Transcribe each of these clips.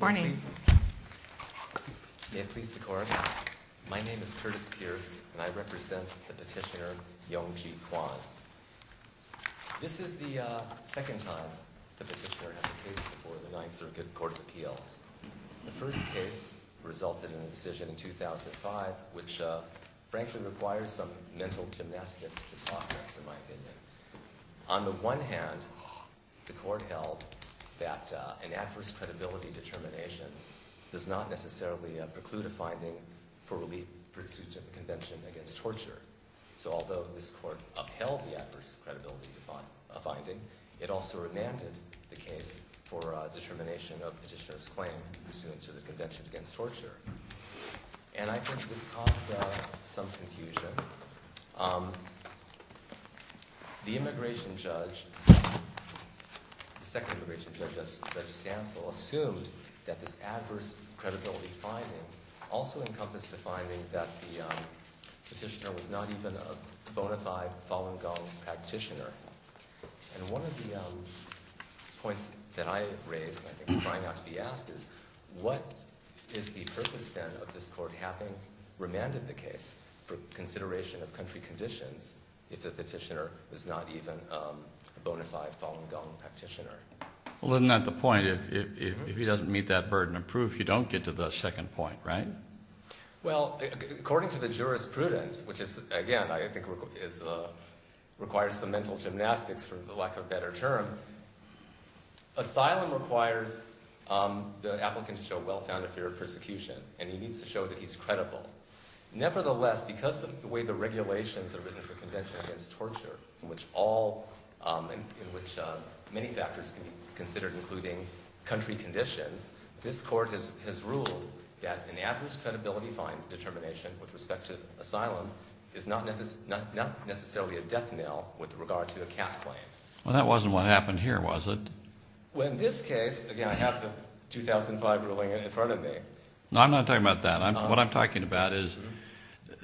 May it please the Court, my name is Curtis Pierce and I represent the petitioner Yongji Quan. This is the second time the petitioner has a case before the United Circuit Court of Appeals. The first case resulted in a decision in 2005, which frankly requires some mental gymnastics to process, in my opinion. On the one hand, the Court held that an adverse credibility determination does not necessarily preclude a finding for relief pursuant to the Convention Against Torture. So although this Court upheld the adverse credibility finding, it also remanded the case for determination of petitioner's claim pursuant to the Convention Against Torture. And I think this caused some confusion. The immigration judge, the second immigration judge, Judge Stancil, assumed that this adverse credibility finding also encompassed a finding that the petitioner was not even a bona fide Falun Gong practitioner. And one of the points that I raised, and I think is trying not to be asked, is what is the purpose then of this Court having remanded the case for consideration of country conditions if the petitioner is not even a bona fide Falun Gong practitioner? Well, isn't that the point? If he doesn't meet that burden of proof, you don't get to the second point, right? Well, according to the jurisprudence, which is, again, I think requires some mental gymnastics for lack of a better term, asylum requires the applicant to show well-founded fear of persecution, and he needs to show that he's credible. Nevertheless, because of the way the regulations are written for Convention Against Torture, in which many factors can be considered, including country conditions, this Court has ruled that an adverse credibility finding determination with respect to asylum is not necessarily a death knell with regard to a cat claim. Well, that wasn't what happened here, was it? Well, in this case, again, I have the 2005 ruling in front of me. No, I'm not talking about that. What I'm talking about is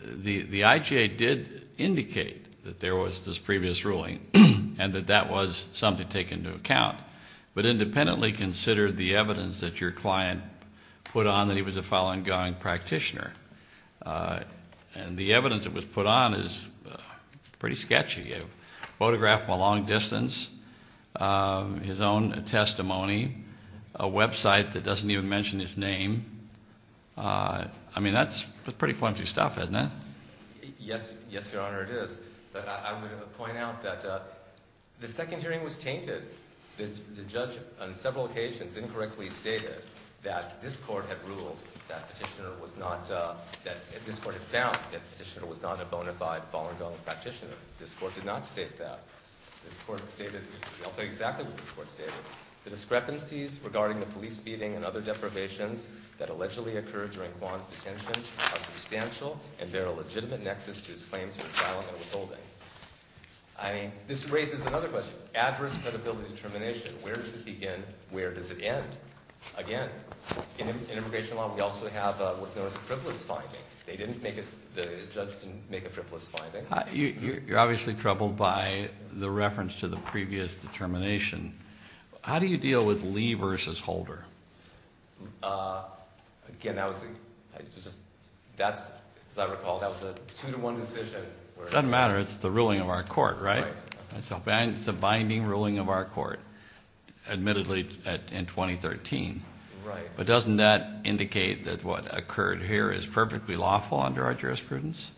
the IGA did indicate that there was this previous ruling and that that was something to take into account, but independently considered the evidence that your client put on that he was a Falun Gong practitioner. And the evidence that was put on is pretty sketchy. A photograph from a long distance, his own testimony, a website that doesn't even mention his name. I mean, that's pretty flimsy stuff, isn't it? Yes, Your Honor, it is. But I'm going to point out that the second hearing was tainted. The judge on several occasions incorrectly stated that this Court had found that Petitioner was not a bona fide Falun Gong practitioner. This Court did not state that. I'll tell you exactly what this Court stated. The discrepancies regarding the police beating and other deprivations that allegedly occurred during Kwan's detention are substantial and bear a legitimate nexus to his claims of asylum and withholding. I mean, this raises another question. Adverse credibility determination. Where does it begin? Where does it end? Again, in immigration law, we also have what's known as a frivolous finding. They didn't make it, the judge didn't make a frivolous finding. You're obviously troubled by the reference to the previous determination. How do you deal with Lee versus Holder? Again, as I recall, that was a two-to-one decision. It doesn't matter. It's the ruling of our Court, right? It's a binding ruling of our Court, admittedly, in 2013. But doesn't that indicate that what occurred here is perfectly lawful under our jurisprudence?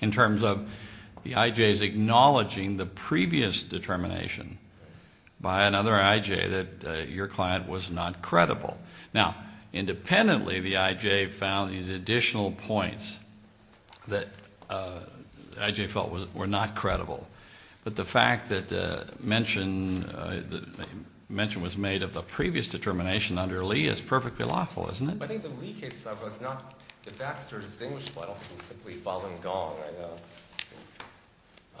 In terms of the I.J.'s acknowledging the previous determination by another I.J. that your client was not credible. Now, independently, the I.J. found these additional points that I.J. felt were not credible. But the fact that mention was made of the previous determination under Lee is perfectly lawful, isn't it? I think the Lee case is not the facts are distinguished. I don't think it was simply Falun Gong.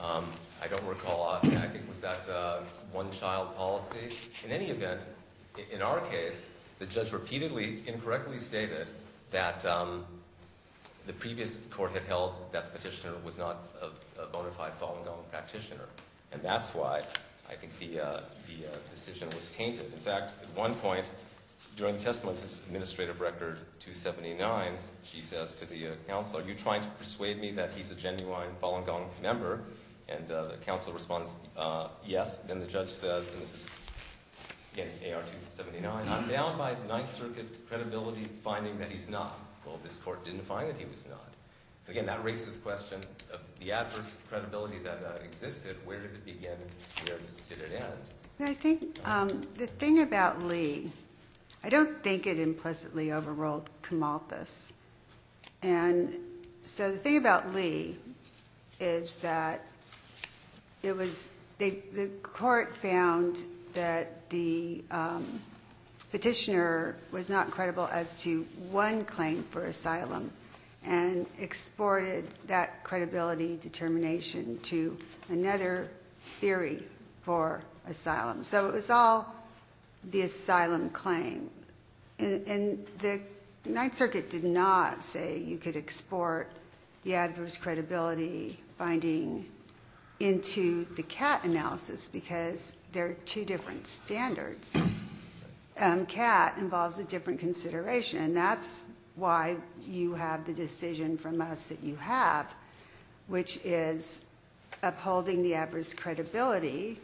I don't recall. I think it was that one-child policy. In any event, in our case, the judge repeatedly incorrectly stated that the previous court had held that the petitioner was not a bona fide Falun Gong practitioner. And that's why I think the decision was tainted. In fact, at one point during the testimony, this is Administrative Record 279. She says to the counselor, are you trying to persuade me that he's a genuine Falun Gong member? And the counselor responds, yes. Then the judge says, and this is, again, AR 279, I'm bound by Ninth Circuit credibility finding that he's not. Well, this court didn't find that he was not. Again, that raises the question of the adverse credibility that existed. Where did it begin and where did it end? I think the thing about Lee, I don't think it implicitly overruled Camalthus. And so the thing about Lee is that it was the court found that the petitioner was not credible as to one claim for asylum and exported that credibility determination to another theory for asylum. So it was all the asylum claim. And the Ninth Circuit did not say you could export the adverse credibility finding into the CAT analysis because there are two different standards. CAT involves a different consideration, and that's why you have the decision from us that you have, which is upholding the adverse credibility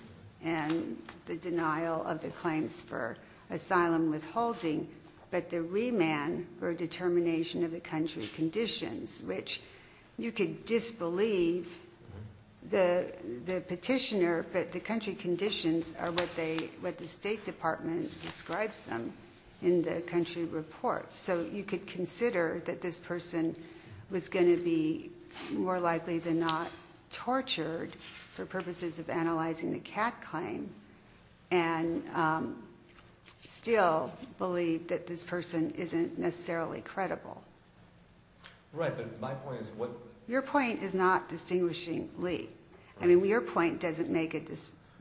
and the denial of the claims for asylum withholding, but the remand for determination of the country conditions, which you could disbelieve the petitioner, but the country conditions are what the State Department describes them in the country report. So you could consider that this person was going to be more likely than not tortured for purposes of analyzing the CAT claim and still believe that this person isn't necessarily credible. Right, but my point is what... Your point is not distinguishing Lee. I mean, your point doesn't make a...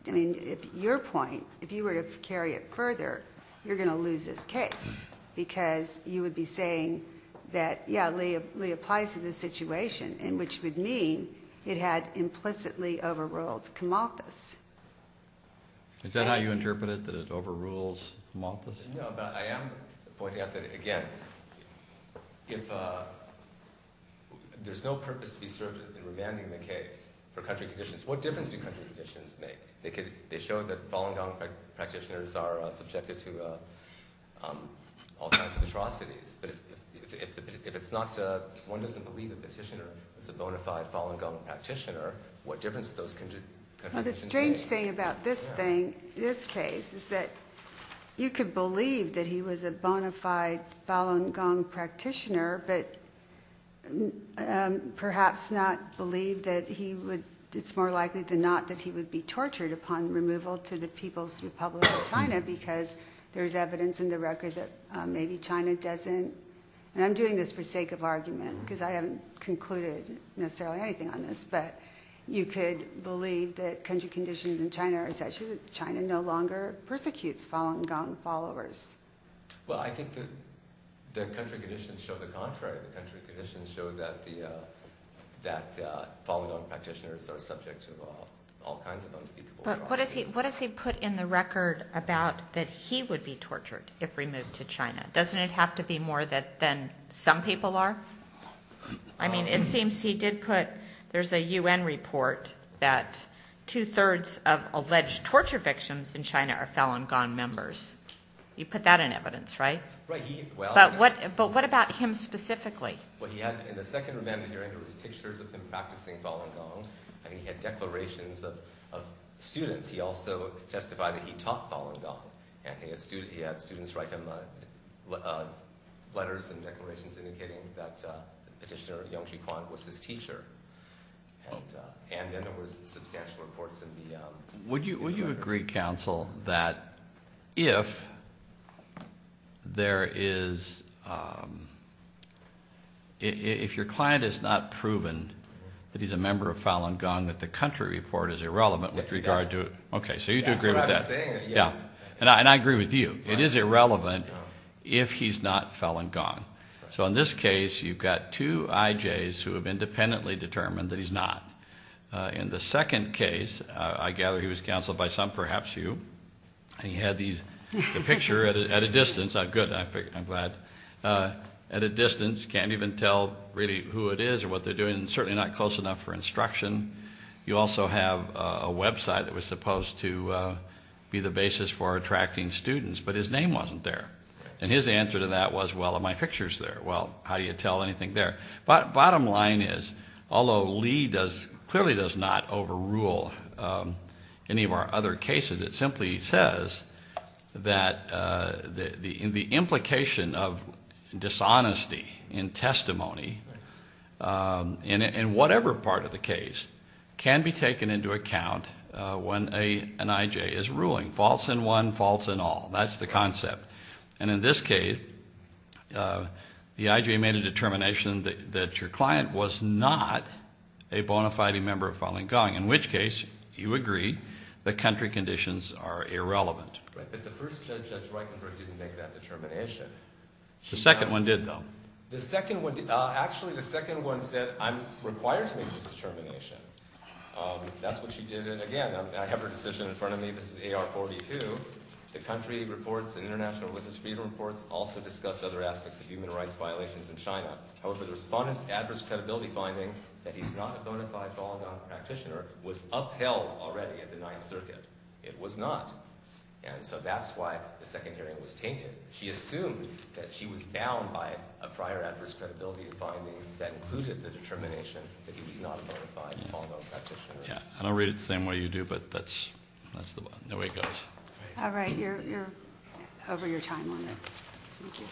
I mean, if your point, if you were to carry it further, you're going to lose this case because you would be saying that, yeah, Lee applies to this situation, which would mean it had implicitly overruled Camalthus. Is that how you interpret it, that it overrules Camalthus? No, but I am pointing out that, again, if there's no purpose to be served in remanding the case for country conditions, what difference do country conditions make? They show that Falun Gong practitioners are subjected to all kinds of atrocities, but if one doesn't believe the petitioner is a bona fide Falun Gong practitioner, what difference do those country conditions make? Well, the strange thing about this thing, this case, is that you could believe that he was a bona fide Falun Gong practitioner but perhaps not believe that he would... It's more likely than not that he would be tortured upon removal to the People's Republic of China because there's evidence in the record that maybe China doesn't... And I'm doing this for sake of argument because I haven't concluded necessarily anything on this, but you could believe that country conditions in China are such that China no longer persecutes Falun Gong followers. Well, I think that the country conditions show the contrary. The country conditions show that Falun Gong practitioners are subject to all kinds of unspeakable atrocities. But what does he put in the record about that he would be tortured if removed to China? Doesn't it have to be more than some people are? I mean, it seems he did put... There's a UN report that two-thirds of alleged torture victims in China are Falun Gong members. You put that in evidence, right? Right. But what about him specifically? Well, he had, in the second remanded hearing, there was pictures of him practicing Falun Gong, and he had declarations of students. He also testified that he taught Falun Gong, and he had students write him letters and declarations indicating that Petitioner Yongqi Kuan was his teacher. And then there was substantial reports in the record. Would you agree, counsel, that if there is... if your client has not proven that he's a member of Falun Gong, that the country report is irrelevant with regard to... Yes. Okay, so you do agree with that. That's what I'm saying, yes. And I agree with you. It is irrelevant if he's not Falun Gong. So in this case, you've got two IJs who have independently determined that he's not. In the second case, I gather he was counseled by some, perhaps you, and he had the picture at a distance. Good, I'm glad. At a distance, can't even tell really who it is or what they're doing, and certainly not close enough for instruction. You also have a website that was supposed to be the basis for attracting students, but his name wasn't there. And his answer to that was, well, are my pictures there? Well, how do you tell anything there? Bottom line is, although Lee clearly does not overrule any of our other cases, it simply says that the implication of dishonesty in testimony, in whatever part of the case, can be taken into account when an IJ is ruling. False in one, false in all. That's the concept. And in this case, the IJ made a determination that your client was not a bona fide member of Falun Gong, in which case, you agree, the country conditions are irrelevant. But the first Judge Reichenberg didn't make that determination. The second one did, though. Actually, the second one said, I'm required to make this determination. That's what she did. And again, I have her decision in front of me. This is AR-42. The country reports in International Witness Freedom Reports also discuss other aspects of human rights violations in China. However, the Respondent's adverse credibility finding that he's not a bona fide Falun Gong practitioner was upheld already at the Ninth Circuit. It was not. And so that's why the second hearing was tainted. She assumed that she was bound by a prior adverse credibility finding that included the determination that he was not a bona fide Falun Gong practitioner. Yeah. I don't read it the same way you do, but that's the way it goes. All right. You're over your time on that. Thank you.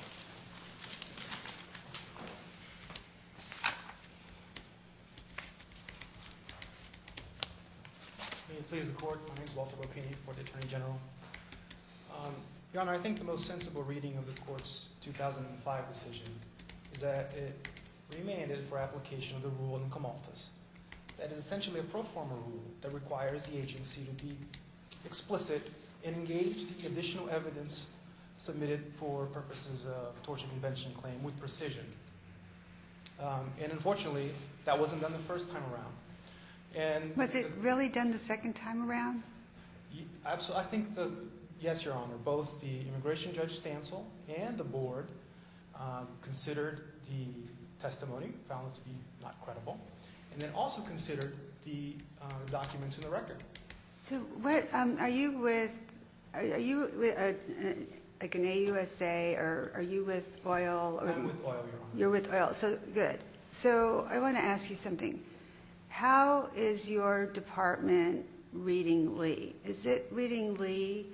May it please the Court. My name is Walter Bopini for the Attorney General. Your Honor, I think the most sensible reading of the Court's 2005 decision is that it remanded for application of the rule in the comaltas. That is essentially a pro forma rule that requires the agency to be explicit and engage the additional evidence submitted for purposes of torture prevention claim with precision. And unfortunately, that wasn't done the first time around. Was it really done the second time around? I think that, yes, Your Honor, both the immigration judge Stancil and the board considered the testimony, found it to be not credible. And then also considered the documents in the record. So are you with like an AUSA or are you with oil? I'm with oil, Your Honor. You're with oil. So good. So I want to ask you something. How is your department reading Lee? Is it reading Lee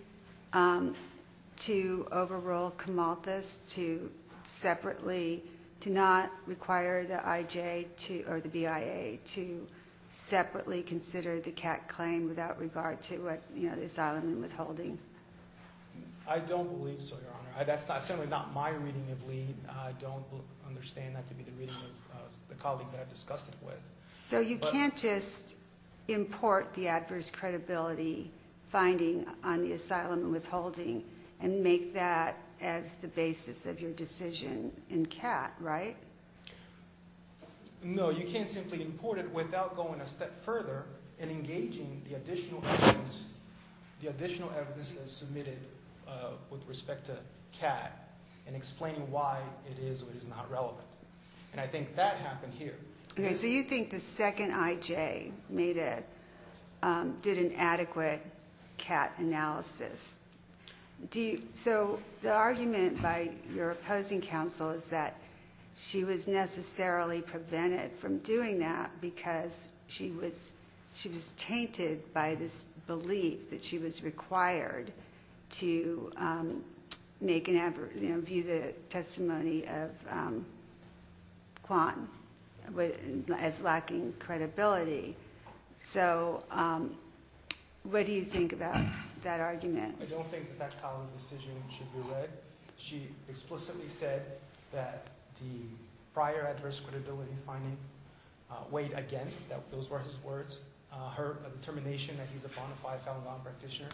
to overrule comaltas, to separately, to not require the IJ or the BIA to separately consider the CAC claim without regard to what, you know, the asylum and withholding? I don't believe so, Your Honor. That's certainly not my reading of Lee. I don't understand that to be the reading of the colleagues that I've discussed it with. So you can't just import the adverse credibility finding on the asylum and withholding and make that as the basis of your decision in CAT, right? No, you can't simply import it without going a step further and engaging the additional evidence, the additional evidence that is submitted with respect to CAT and explaining why it is or is not relevant. And I think that happened here. Okay. So you think the second IJ did an adequate CAT analysis. So the argument by your opposing counsel is that she was necessarily prevented from doing that because she was tainted by this belief that she was required to make an adverse, you know, view the testimony of Quan as lacking credibility. So what do you think about that argument? I don't think that that's how the decision should be read. She explicitly said that the prior adverse credibility finding weighed against, those were his words, her determination that he's a bona fide Falun Gong practitioner.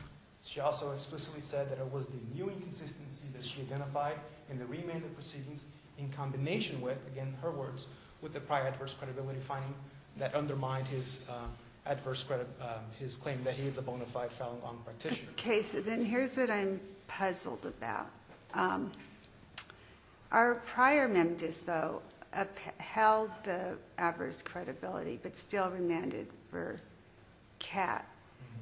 She also explicitly said that it was the new inconsistencies that she identified in the remanded proceedings in combination with, again, her words, with the prior adverse credibility finding that undermined his claim that he is a bona fide Falun Gong practitioner. Okay. So then here's what I'm puzzled about. Our prior mem dispo upheld the adverse credibility but still remanded for CAT.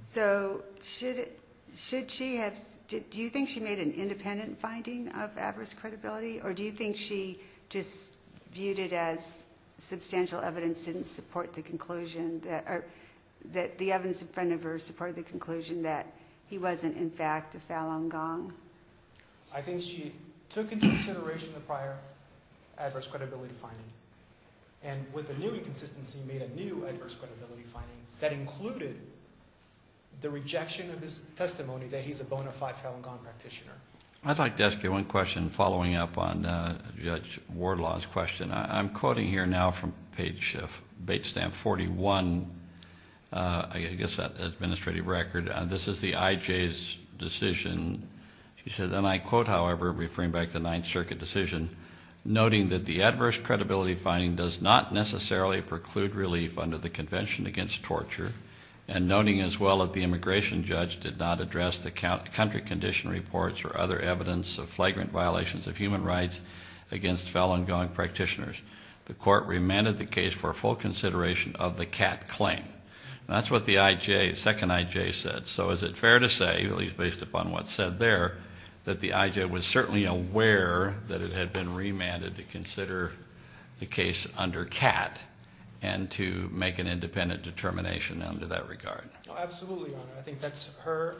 So should she have, do you think she made an independent finding of adverse credibility? Or do you think she just viewed it as substantial evidence didn't support the conclusion that, or that the evidence in front of her supported the conclusion that he wasn't in fact a Falun Gong? I think she took into consideration the prior adverse credibility finding and with the new inconsistency made a new adverse credibility finding that included the rejection of his testimony that he's a bona fide Falun Gong practitioner. I'd like to ask you one question following up on Judge Wardlaw's question. I'm quoting here now from page, Bate Stamp 41. I guess that administrative record. This is the IJ's decision. She said, and I quote, however, referring back to the Ninth Circuit decision, noting that the adverse credibility finding does not necessarily preclude relief under the Convention Against Torture. And noting as well that the immigration judge did not address the country condition reports or other evidence of flagrant violations of human rights against Falun Gong practitioners. The court remanded the case for full consideration of the CAT claim. That's what the IJ, second IJ said. So is it fair to say, at least based upon what's said there, that the IJ was certainly aware that it had been remanded to consider the case under CAT and to make an independent determination under that regard? Absolutely, Your Honor. I think that's her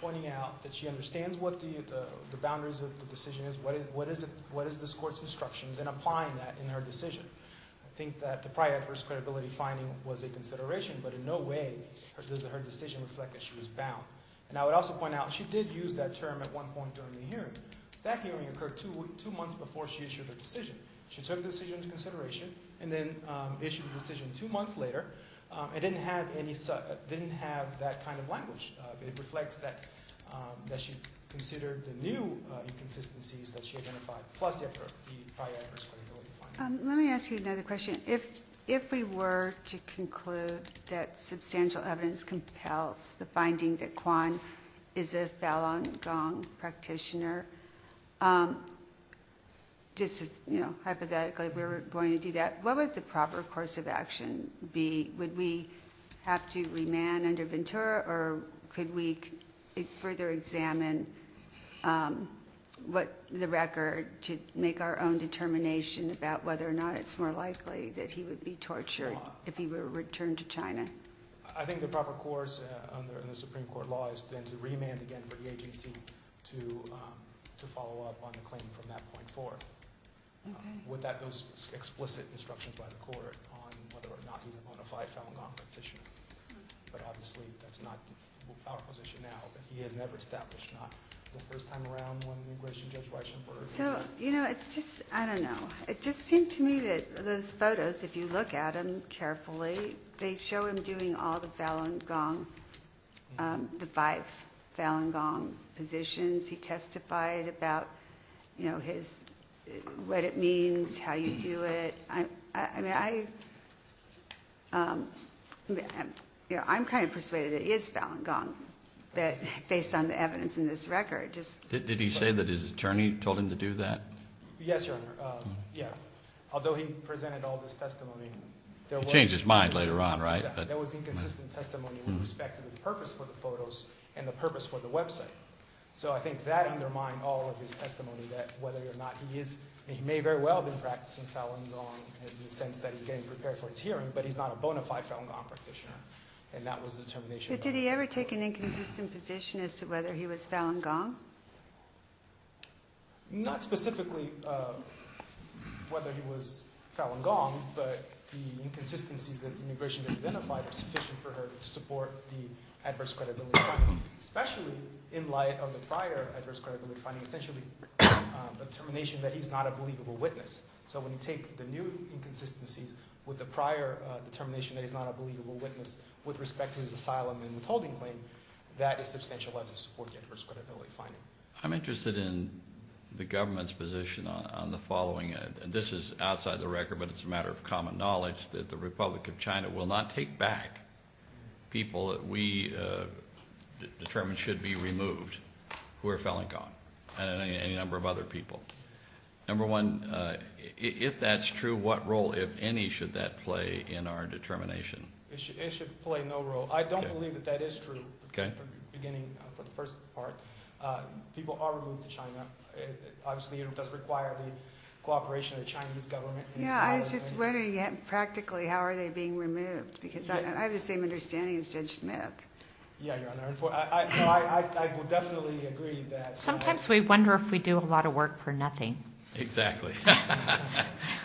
pointing out that she understands what the boundaries of the decision is. What is this court's instructions in applying that in her decision? I think that the prior adverse credibility finding was a consideration, but in no way does her decision reflect that she was bound. And I would also point out she did use that term at one point during the hearing. That hearing occurred two months before she issued her decision. She took the decision into consideration and then issued the decision two months later. It didn't have that kind of language. It reflects that she considered the new inconsistencies that she identified plus the prior adverse credibility finding. Let me ask you another question. If we were to conclude that substantial evidence compels the finding that Quan is a Falun Gong practitioner, hypothetically, if we were going to do that, what would the proper course of action be? Would we have to remand under Ventura or could we further examine the record to make our own determination about whether or not it's more likely that he would be tortured if he were returned to China? I think the proper course under the Supreme Court law is then to remand again for the AGC to follow up on the claim from that point forth. Without those explicit instructions by the court on whether or not he's a bona fide Falun Gong practitioner. But obviously that's not our position now. He has never established that. Not the first time around when immigration judge Reichenberg. You know, it's just, I don't know. It just seemed to me that those photos, if you look at them carefully, they show him doing all the Falun Gong, the five Falun Gong positions. He testified about, you know, what it means, how you do it. I mean, I'm kind of persuaded that he is Falun Gong based on the evidence in this record. Did he say that his attorney told him to do that? Yes, Your Honor. Yeah. Although he presented all this testimony. He changed his mind later on, right? There was inconsistent testimony with respect to the purpose for the photos and the purpose for the website. So I think that undermined all of his testimony that whether or not he is, he may very well have been practicing Falun Gong in the sense that he's getting prepared for his hearing. But he's not a bona fide Falun Gong practitioner. And that was the determination. Did he ever take an inconsistent position as to whether he was Falun Gong? Not specifically whether he was Falun Gong. But the inconsistencies that the immigration judge identified are sufficient for her to support the adverse credibility claim. Especially in light of the prior adverse credibility finding, essentially the determination that he's not a believable witness. So when you take the new inconsistencies with the prior determination that he's not a believable witness with respect to his asylum and withholding claim, that is substantial enough to support the adverse credibility finding. I'm interested in the government's position on the following. This is outside the record, but it's a matter of common knowledge that the Republic of China will not take back people that we determine should be removed who are Falun Gong. And any number of other people. Number one, if that's true, what role, if any, should that play in our determination? It should play no role. I don't believe that that is true, beginning from the first part. People are removed to China. Obviously, it does require the cooperation of the Chinese government. Yeah, I was just wondering, practically, how are they being removed? Because I have the same understanding as Judge Smith. Yeah, Your Honor. I will definitely agree that. Sometimes we wonder if we do a lot of work for nothing. Exactly.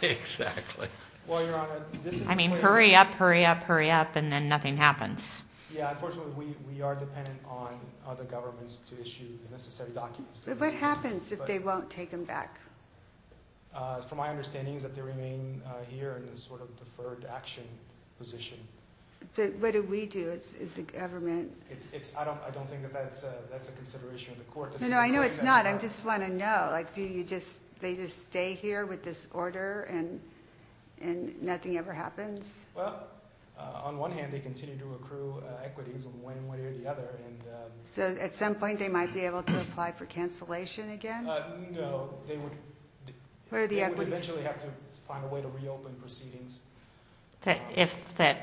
Exactly. Well, Your Honor, this is the way. I mean, hurry up, hurry up, hurry up, and then nothing happens. Yeah, unfortunately, we are dependent on other governments to issue the necessary documents. But what happens if they won't take them back? From my understanding is that they remain here in a sort of deferred action position. But what do we do as a government? I don't think that that's a consideration of the court. No, no, I know it's not. I just want to know. Like, do they just stay here with this order and nothing ever happens? Well, on one hand, they continue to accrue equities one way or the other. So at some point they might be able to apply for cancellation again? No, they would eventually have to find a way to reopen proceedings. If the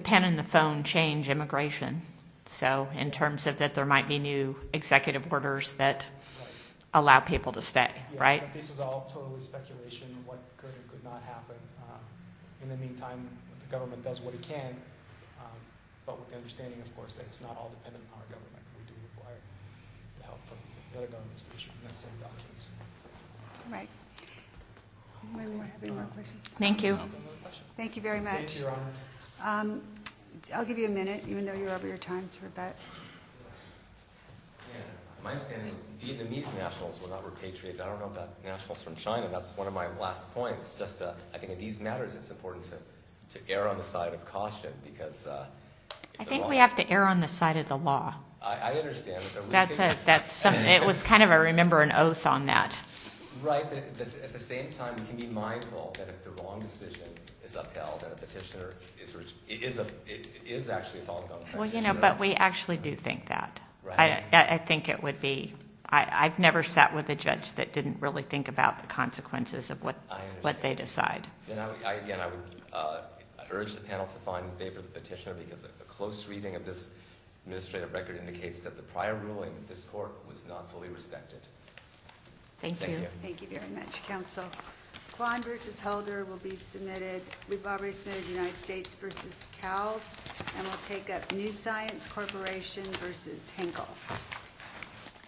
pen and the phone change immigration, so in terms of that there might be new executive orders that allow people to stay, right? Yeah, but this is all totally speculation. What could or could not happen? In the meantime, the government does what it can, but with the understanding, of course, that it's not all dependent on our government. We do require the help from other governments to issue the necessary documents. All right. Anyone have any more questions? Thank you. Thank you very much. Thank you, Your Honor. I'll give you a minute, even though you're over your time, to rebut. My understanding is Vietnamese nationals were not repatriated. I don't know about nationals from China. That's one of my last points. I think in these matters it's important to err on the side of caution. I think we have to err on the side of the law. I understand. It was kind of I remember an oath on that. Right. At the same time, you can be mindful that if the wrong decision is upheld and a petitioner is actually a fallen gun practitioner. But we actually do think that. I think it would be. I've never sat with a judge that didn't really think about the consequences of what they decide. I understand. Again, I would urge the panel to find in favor of the petitioner because a close reading of this administrative record indicates that the prior ruling of this court was not fully respected. Thank you. Thank you. Thank you very much, counsel. Kwan versus Helder will be submitted. We've already submitted United States versus Cowles. And we'll take up New Science Corporation versus Henkel.